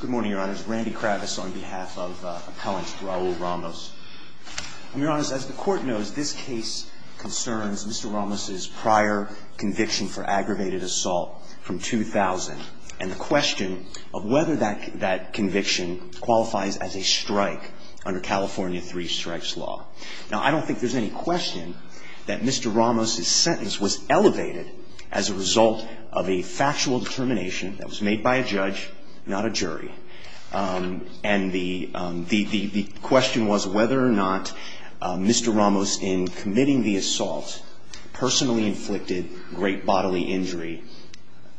Good morning, Your Honors. Randy Kravitz on behalf of Appellant Raul Ramos. Your Honors, as the Court knows, this case concerns Mr. Ramos' prior conviction for aggravated assault from 2000 and the question of whether that conviction qualifies as a strike under California three-strikes law. Now, I don't think there's any question that Mr. Ramos' sentence was elevated as a result of a factual determination that was made by a judge, not a jury. And the question was whether or not Mr. Ramos, in committing the assault, personally inflicted great bodily injury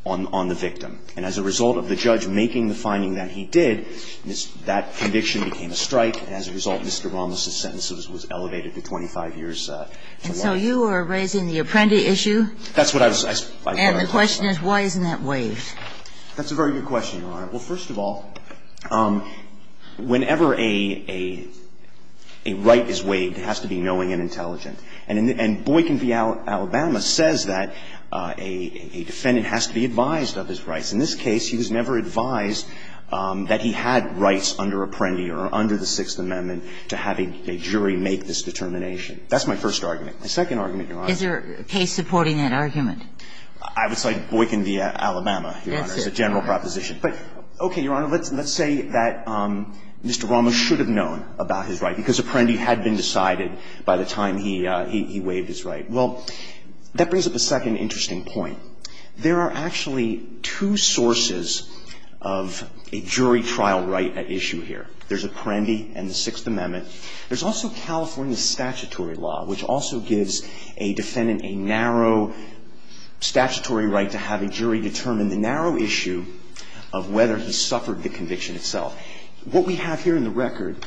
on the victim. And as a result of the judge making the finding that he did, that conviction became a strike. And as a result, Mr. Ramos' sentence was elevated to 25 years. And so you are raising the Apprendi issue? That's what I was asking. And the question is why isn't that waived? That's a very good question, Your Honor. Well, first of all, whenever a right is waived, it has to be knowing and intelligent. And Boykin v. Alabama says that a defendant has to be advised of his rights. In this case, he was never advised that he had rights under Apprendi or under the Sixth Amendment to have a jury make this determination. That's my first argument. My second argument, Your Honor. Is there a case supporting that argument? I would cite Boykin v. Alabama, Your Honor, as a general proposition. But, okay, Your Honor, let's say that Mr. Ramos should have known about his right because Apprendi had been decided by the time he waived his right. Well, that brings up a second interesting point. There are actually two sources of a jury trial right at issue here. There's Apprendi and the Sixth Amendment. There's also California statutory law, which also gives a defendant a narrow statutory right to have a jury determine the narrow issue of whether he suffered the conviction itself. What we have here in the record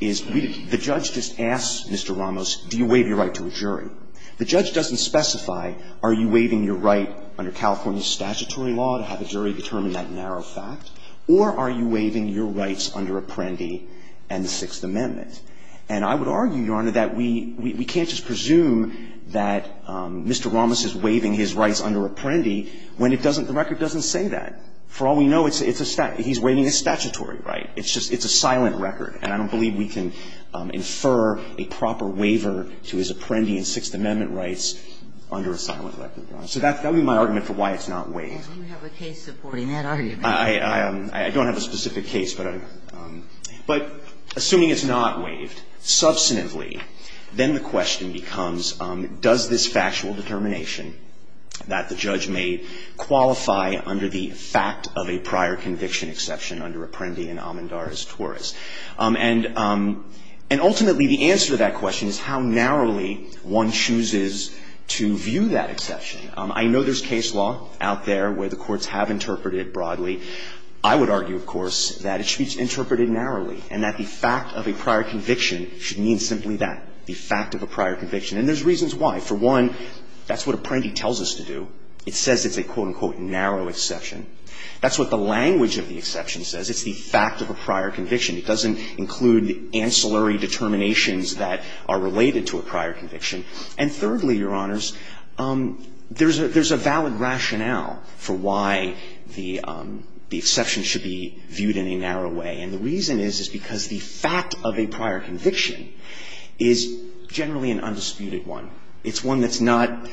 is the judge just asks Mr. Ramos, do you waive your right to a jury? The judge doesn't specify, are you waiving your right under California statutory law to have a jury determine that narrow fact, or are you waiving your rights under Apprendi and the Sixth Amendment? And I would argue, Your Honor, that we can't just presume that Mr. Ramos is waiving his rights under Apprendi when it doesn't, the record doesn't say that. For all we know, it's a statutory, he's waiving his statutory right. It's just, it's a silent record. And I don't believe we can infer a proper waiver to his Apprendi and Sixth Amendment rights under a silent record, Your Honor. So that would be my argument for why it's not waived. Do you have a case supporting that argument? I don't have a specific case, but assuming it's not waived substantively, then the question becomes, does this factual determination that the judge made qualify under the fact of a prior conviction exception under Apprendi and Amandar as torus? And ultimately, the answer to that question is how narrowly one chooses to view that exception. I know there's case law out there where the courts have interpreted it broadly. I would argue, of course, that it should be interpreted narrowly and that the fact of a prior conviction should mean simply that, the fact of a prior conviction. And there's reasons why. For one, that's what Apprendi tells us to do. It says it's a, quote, unquote, narrow exception. That's what the language of the exception says. It's the fact of a prior conviction. It doesn't include the ancillary determinations that are related to a prior conviction. And thirdly, Your Honors, there's a valid rationale for why the exception should be viewed in a narrow way. And the reason is, is because the fact of a prior conviction is generally an undisputed one. It's one that's not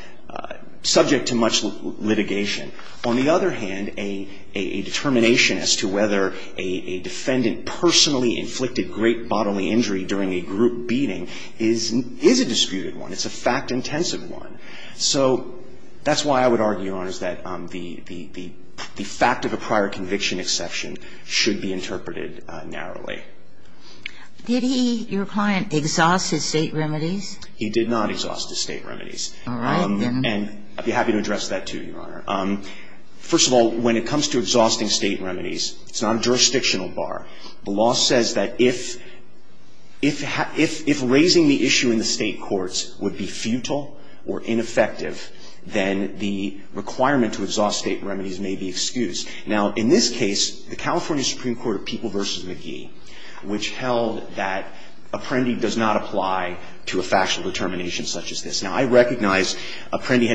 subject to much litigation. On the other hand, a determination as to whether a defendant personally inflicted great bodily injury during a group beating is a disputed one. It's a fact-intensive one. So that's why I would argue, Your Honors, that the fact of a prior conviction exception should be interpreted narrowly. Did he, your client, exhaust his State remedies? He did not exhaust his State remedies. All right. And I'd be happy to address that, too, Your Honor. First of all, when it comes to exhausting State remedies, it's not a jurisdictional matter. The law says that if raising the issue in the State courts would be futile or ineffective, then the requirement to exhaust State remedies may be excused. Now, in this case, the California Supreme Court of People v. McGee, which held that apprendee does not apply to a factual determination such as this. Now, I recognize McGee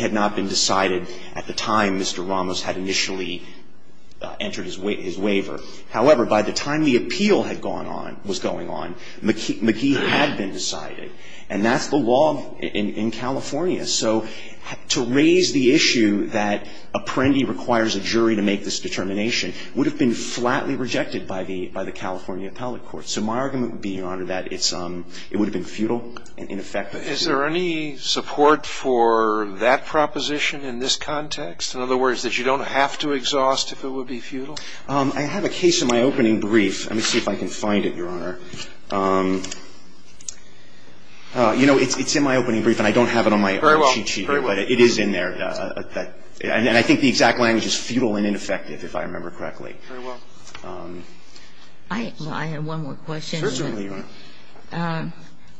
had not been decided at the time Mr. Ramos had initially entered his waiver. However, by the time the appeal had gone on, was going on, McGee had been decided. And that's the law in California. So to raise the issue that apprendee requires a jury to make this determination would have been flatly rejected by the California Appellate Court. So my argument would be, Your Honor, that it would have been futile and ineffective. Is there any support for that proposition in this context? In other words, that you don't have to exhaust if it would be futile? I have a case in my opening brief. Let me see if I can find it, Your Honor. You know, it's in my opening brief, and I don't have it on my own cheat sheet. Very well. But it is in there. And I think the exact language is futile and ineffective, if I remember correctly. Very well. I have one more question. Certainly, Your Honor.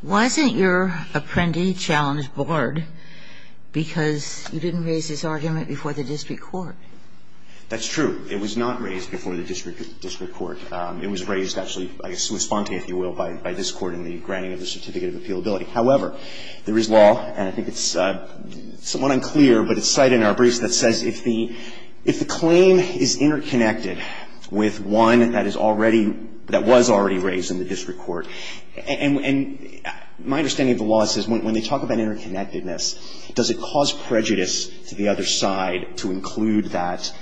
Wasn't your apprentice challenge blurred because you didn't raise this argument before the district court? That's true. It was not raised before the district court. It was raised, actually, I guess in response, if you will, by this Court in the granting of the certificate of appealability. However, there is law, and I think it's somewhat unclear, but it's cited in our briefs that says if the claim is interconnected with one that is already, that was already raised in the district court. And my understanding of the law says when they talk about interconnectedness, does it cause prejudice to the other side to include that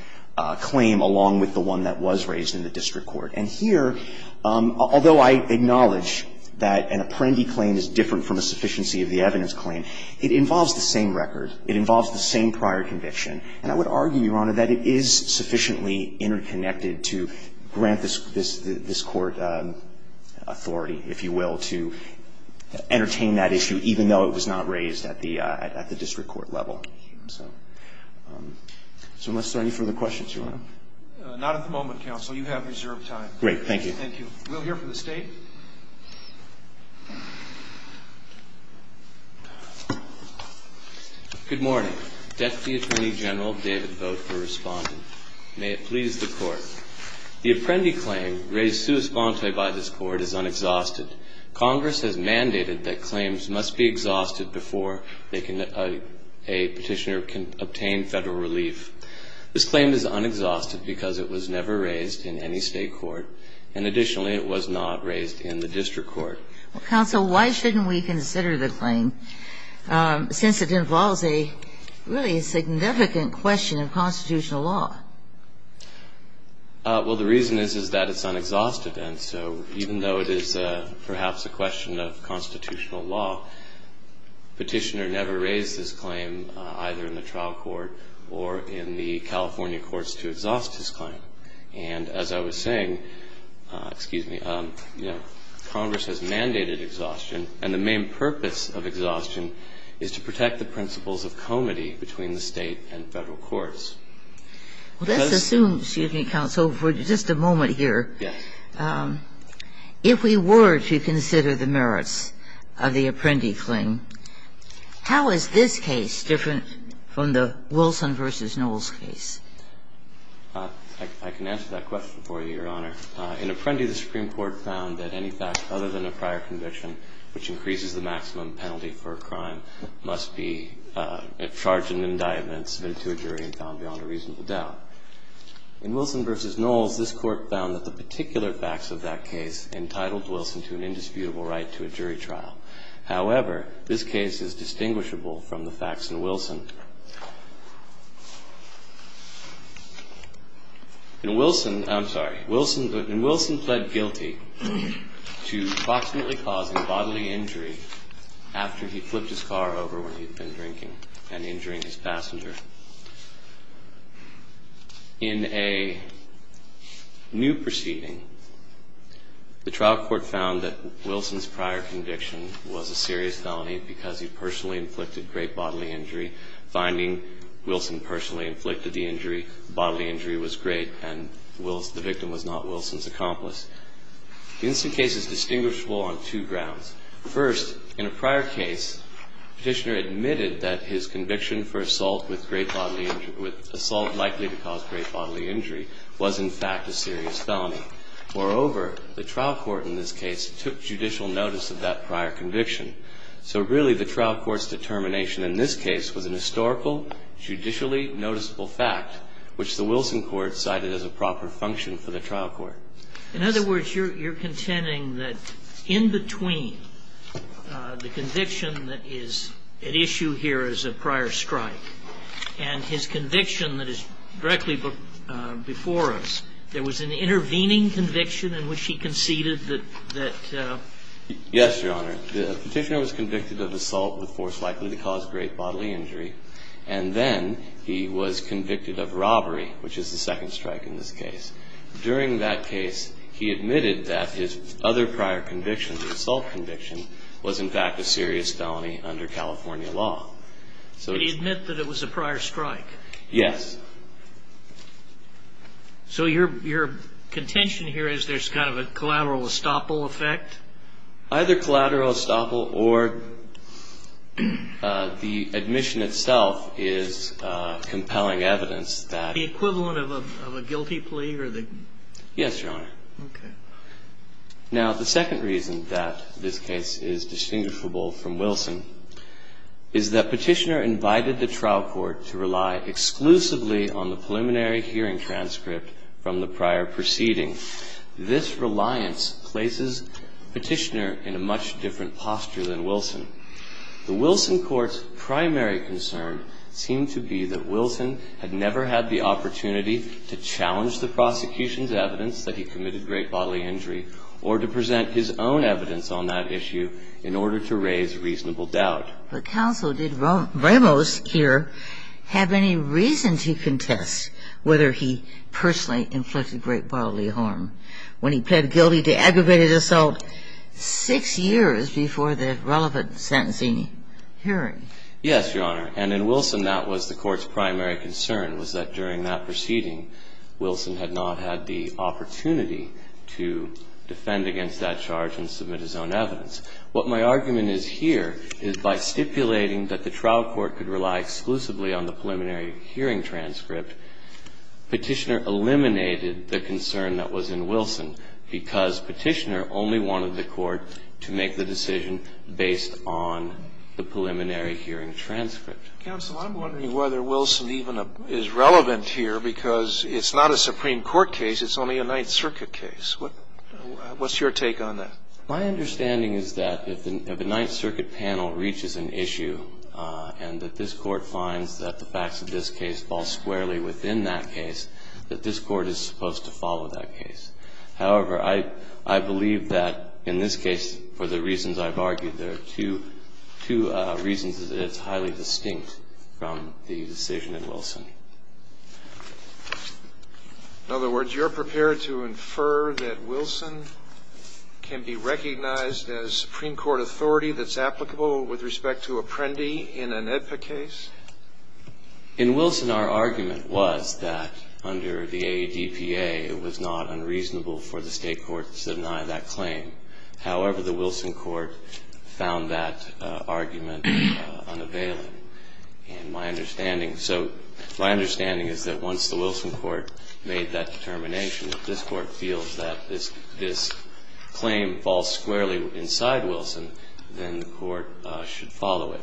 claim along with the one that was raised in the district court? And here, although I acknowledge that an apprendi claim is different from a sufficiency of the evidence claim, it involves the same record. It involves the same prior conviction. And I would argue, Your Honor, that it is sufficiently interconnected to grant this court authority, if you will, to entertain that issue even though it was not raised at the district court level. So unless there are any further questions, Your Honor. Not at the moment, counsel. You have reserved time. Great. Thank you. Thank you. We'll hear from the State. Good morning. Deputy Attorney General David Boat for responding. May it please the Court. The apprendi claim raised sui sponte by this Court is unexhausted. Congress has mandated that claims must be exhausted before they can, a petitioner can obtain Federal relief. This claim is unexhausted because it was never raised in any State court, and additionally, it was not raised in the district court. Well, counsel, why shouldn't we consider the claim since it involves a really significant question in constitutional law? Well, the reason is that it's unexhausted. And so even though it is perhaps a question of constitutional law, petitioner never raised this claim either in the trial court or in the California courts to exhaust this claim. And as I was saying, excuse me, Congress has mandated exhaustion, and the main purpose of exhaustion is to protect the principles of comity between the State and Federal courts. Well, let's assume, excuse me, counsel, for just a moment here, if we were to consider the merits of the apprendi claim, how is this case different from the Wilson v. Knowles case? I can answer that question for you, Your Honor. In apprendi, the Supreme Court found that any fact other than a prior conviction which increases the maximum penalty for a crime must be charged an indictment, submitted to a jury, and found beyond a reasonable doubt. In Wilson v. Knowles, this Court found that the particular facts of that case entitled Wilson to an indisputable right to a jury trial. However, this case is distinguishable from the facts in Wilson. In Wilson, I'm sorry, in Wilson pled guilty to approximately causing bodily injury after he flipped his car over when he'd been drinking and injuring his passenger. In a new proceeding, the trial court found that Wilson's prior conviction was a serious felony because he personally inflicted great bodily injury, finding Wilson personally inflicted the injury, bodily injury was great, and the victim was not Wilson's accomplice. This case is distinguishable on two grounds. First, in a prior case, Petitioner admitted that his conviction for assault with great bodily injury, with assault likely to cause great bodily injury, was in fact a serious felony. Moreover, the trial court in this case took judicial notice of that prior conviction. So really the trial court's determination in this case was an historical, judicially noticeable fact, which the Wilson court cited as a proper function for the trial court. In other words, you're contending that in between the conviction that is at issue here as a prior strike and his conviction that is directly before us, there was an intervening conviction in which he conceded that the ---- Yes, Your Honor. Petitioner was convicted of assault with force likely to cause great bodily injury. And then he was convicted of robbery, which is the second strike in this case. During that case, he admitted that his other prior conviction, the assault conviction, was in fact a serious felony under California law. So it's ---- Could he admit that it was a prior strike? Yes. So your contention here is there's kind of a collateral estoppel effect? Either collateral estoppel or the admission itself is compelling evidence that ---- Yes, Your Honor. Okay. Now, the second reason that this case is distinguishable from Wilson is that Petitioner invited the trial court to rely exclusively on the preliminary hearing transcript from the prior proceeding. This reliance places Petitioner in a much different posture than Wilson. The Wilson court's primary concern seemed to be that Wilson had never had the opportunity to challenge the prosecution's evidence that he committed great bodily injury or to present his own evidence on that issue in order to raise reasonable doubt. But counsel, did Ramos here have any reason to contest whether he personally inflicted great bodily harm when he pled guilty to aggravated assault six years before the relevant sentencing hearing? Yes, Your Honor. And in Wilson, that was the court's primary concern, was that during that proceeding, Wilson had not had the opportunity to defend against that charge and submit his own evidence. What my argument is here is by stipulating that the trial court could rely exclusively on the preliminary hearing transcript, Petitioner eliminated the concern that was in Wilson, because Petitioner only wanted the court to make the decision based on the preliminary hearing transcript. Counsel, I'm wondering whether Wilson even is relevant here, because it's not a Supreme Court case, it's only a Ninth Circuit case. What's your take on that? My understanding is that if the Ninth Circuit panel reaches an issue and that this Court finds that the facts of this case fall squarely within that case, that this Court is supposed to follow that case. However, I believe that in this case, for the reasons I've argued, there are two reasons that it's highly distinct from the decision in Wilson. In other words, you're prepared to infer that Wilson can be recognized as Supreme Court authority that's applicable with respect to Apprendi in an AEDPA case? In Wilson, our argument was that under the AEDPA, it was not unreasonable for the State courts to deny that claim. However, the Wilson court found that argument unavailing. And my understanding, so my understanding is that once the Wilson court made that determination that this Court feels that this claim falls squarely inside Wilson, then the court should follow it.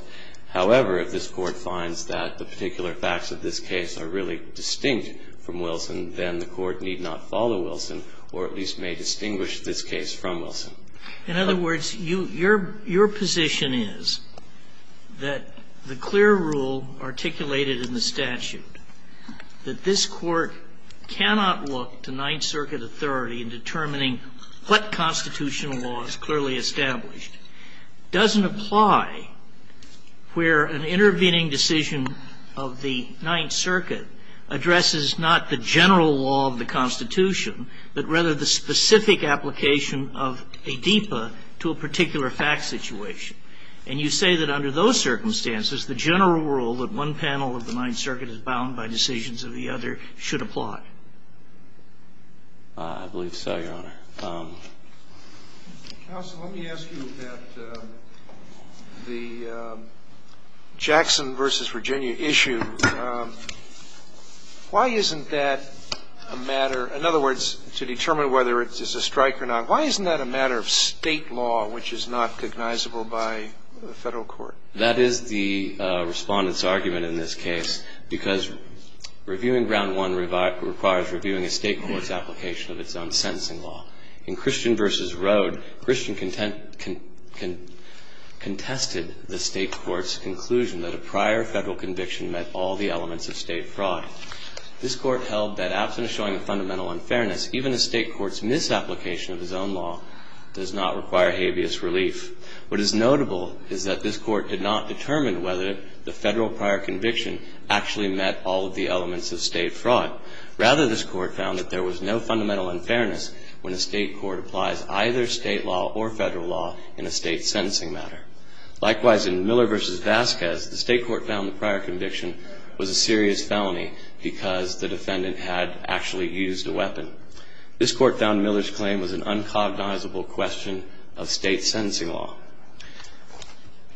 However, if this Court finds that the particular facts of this case are really distinct from Wilson, then the court need not follow Wilson or at least may distinguish this case from Wilson. In other words, your position is that the clear rule articulated in the statute, that this Court cannot look to Ninth Circuit authority in determining what constitutional law is clearly established, doesn't apply where an intervening decision of the Ninth Circuit addresses not the general law of the Constitution, but rather the specific application of AEDPA to a particular fact situation. And you say that under those circumstances, the general rule that one panel of the Ninth Circuit is bound by decisions of the other should apply. I believe so, Your Honor. Counsel, let me ask you about the Jackson v. Virginia issue. Why isn't that a matter, in other words, to determine whether it's a strike or not, why isn't that a matter of State law which is not recognizable by the Federal court? That is the Respondent's argument in this case, because reviewing Ground 1 requires reviewing a State court's application of its own sentencing law. In Christian v. Rode, Christian contested the State court's conclusion that a prior Federal conviction met all the elements of State fraud. This Court held that, absent a showing of fundamental unfairness, even a State court's misapplication of its own law does not require habeas relief. What is notable is that this Court did not determine whether the Federal prior conviction actually met all of the elements of State fraud. Rather, this Court found that there was no fundamental unfairness when a State court applies either State law or Federal law in a State sentencing matter. Likewise, in Miller v. Vasquez, the State court found the prior conviction was a serious felony because the Defendant had actually used a weapon. This Court found Miller's claim was an uncognizable question of State sentencing law.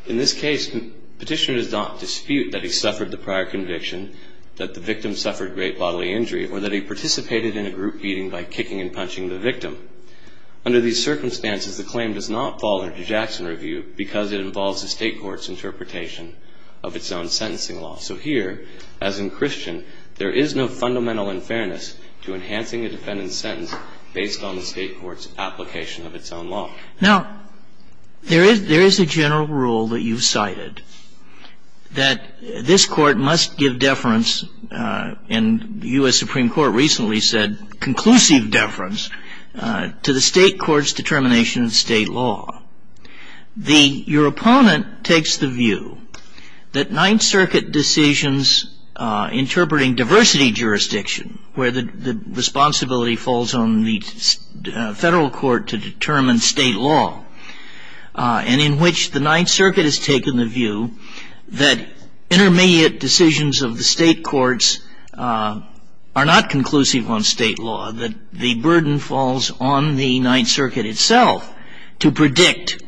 In this case, Petitioner does not dispute that he suffered the prior conviction, that the victim suffered great bodily injury, or that he participated in a group beating by kicking and punching the victim. Under these circumstances, the claim does not fall under Jackson review because it involves the State court's interpretation of its own sentencing law. So here, as in Christian, there is no fundamental unfairness to enhancing a Defendant's sentence based on the State court's application of its own law. Now, there is a general rule that you've cited, that this Court must give deference in the U.S. Supreme Court recently said conclusive deference to the State court's determination of State law. Your opponent takes the view that Ninth Circuit decisions interpreting diversity jurisdiction, where the responsibility falls on the Federal court to determine State law, and in which the Ninth Circuit has taken the view that intermediate decisions of the State courts are not conclusive on State law, that the burden falls on the Ninth Circuit itself to predict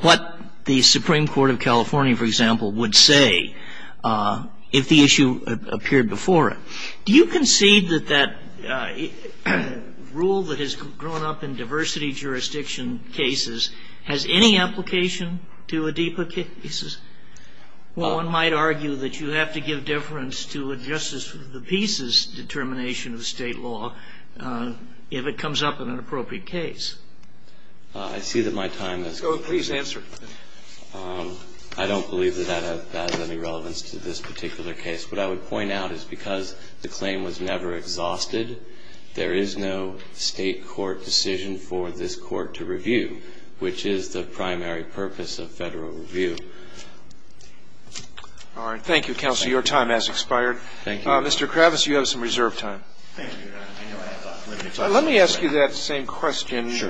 what the Supreme Court of California, for example, would say if the issue appeared before it. Do you concede that that rule that has grown up in diversity jurisdiction cases has any application to Adipa cases? One might argue that you have to give deference to a justice for the pieces determination of State law if it comes up in an appropriate case. I see that my time has come. Please answer. I don't believe that that has any relevance to this particular case. What I would point out is because the claim was never exhausted, there is no State court decision for this Court to review, which is the primary purpose of Federal review. All right. Thank you, counsel. Your time has expired. Thank you. Mr. Kravis, you have some reserve time. Thank you, Your Honor. Let me ask you that same question. Sure.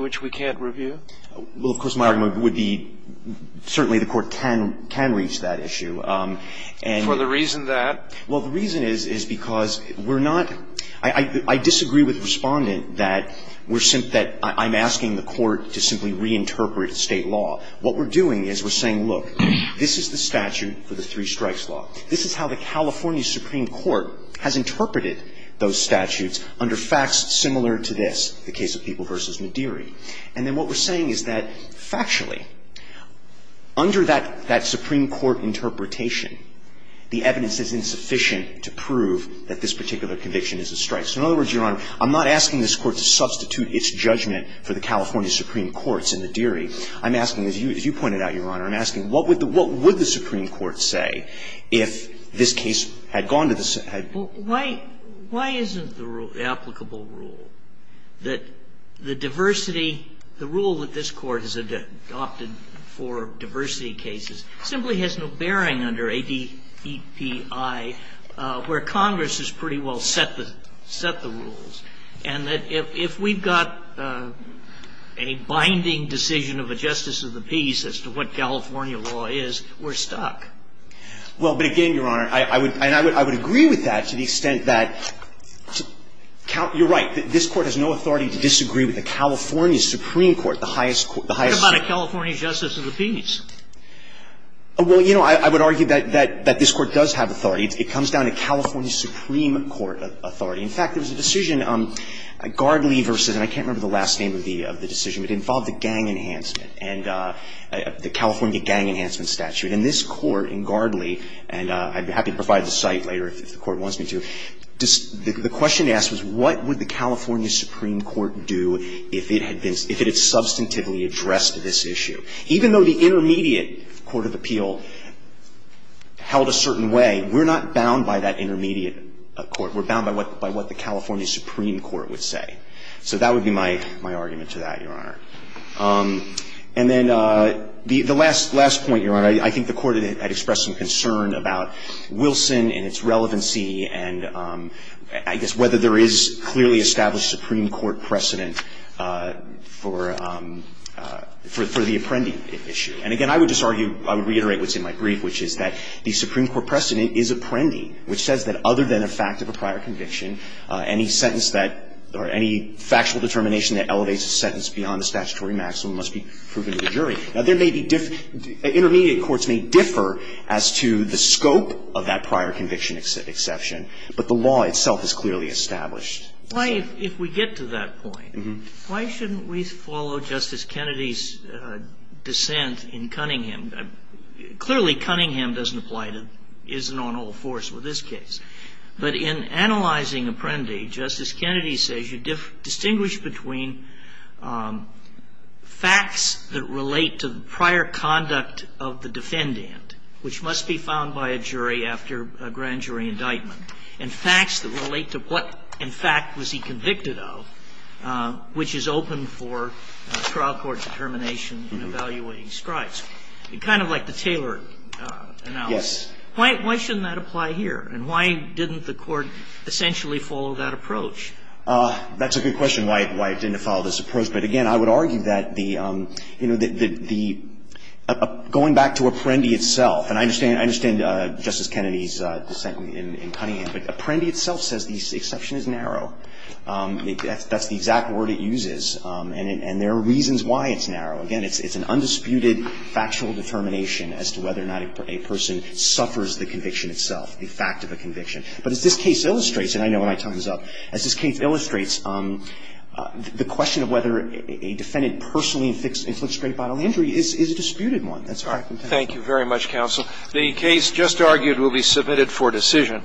which we can't review? Well, of course, my argument would be certainly the Court can reach that issue. For the reason that? Well, the reason is, is because we're not – I disagree with the Respondent that we're – that I'm asking the Court to simply reinterpret State law. What we're doing is we're saying, look, this is the statute for the three-strikes law. This is how the California Supreme Court has interpreted those statutes under facts similar to this, the case of People v. Madiri. And then what we're saying is that, factually, under that – that Supreme Court interpretation, the evidence is insufficient to prove that this particular conviction is a strike. So in other words, Your Honor, I'm not asking this Court to substitute its judgment for the California Supreme Court's in Madiri. I'm asking, as you – as you pointed out, Your Honor, I'm asking what would the – what would the Supreme Court say if this case had gone to the – had – Well, why – why isn't the applicable rule that the diversity – the rule that this Court has adopted for diversity cases simply has no bearing under ADEPI, where Congress has pretty well set the – set the rules, and that if we've got a binding decision of a justice of the peace as to what California law is, we're stuck? Well, but again, Your Honor, I would – and I would – I would agree with that to the extent that count – you're right. This Court has no authority to disagree with the California Supreme Court, the highest – the highest – What about a California justice of the peace? Well, you know, I would argue that – that this Court does have authority. It comes down to California Supreme Court authority. In fact, there was a decision, Gardley v. – and I can't remember the last name of the – of the decision, but it involved a gang enhancement and the California gang enhancement statute. And this Court in Gardley – and I'd be happy to provide the site later if the Court wants me to – the question asked was what would the California Supreme Court do if it had been – if it had substantively addressed this issue? Even though the intermediate court of appeal held a certain way, we're not bound by that intermediate court. We're bound by what – by what the California Supreme Court would say. And then the last point, Your Honor, I think the Court had expressed some concern about Wilson and its relevancy and I guess whether there is clearly established Supreme Court precedent for the apprending issue. And again, I would just argue – I would reiterate what's in my brief, which is that the Supreme Court precedent is apprending, which says that other than a fact of a prior conviction, any sentence that – or any factual determination that elevates a sentence beyond the statutory maximum must be proven to the jury. Now, there may be – intermediate courts may differ as to the scope of that prior conviction exception, but the law itself is clearly established. Why, if we get to that point, why shouldn't we follow Justice Kennedy's dissent in Cunningham? Clearly, Cunningham doesn't apply to – isn't on all fours with this case. But in analyzing apprendi, Justice Kennedy says you distinguish between facts that relate to the prior conduct of the defendant, which must be found by a jury after a grand jury indictment, and facts that relate to what, in fact, was he convicted of, which is open for trial court determination in evaluating strides. Kind of like the Taylor analysis. Yes. Why shouldn't that apply here? And why didn't the Court essentially follow that approach? That's a good question, why it didn't follow this approach. But again, I would argue that the – you know, the – going back to apprendi itself, and I understand Justice Kennedy's dissent in Cunningham, but apprendi itself says the exception is narrow. That's the exact word it uses. And there are reasons why it's narrow. Again, it's an undisputed factual determination as to whether or not a person suffers the conviction itself, the fact of a conviction. But as this case illustrates, and I know my time is up, as this case illustrates, the question of whether a defendant personally inflicts great bodily injury is a disputed one. That's what I contend. Thank you very much, counsel. The case just argued will be submitted for decision.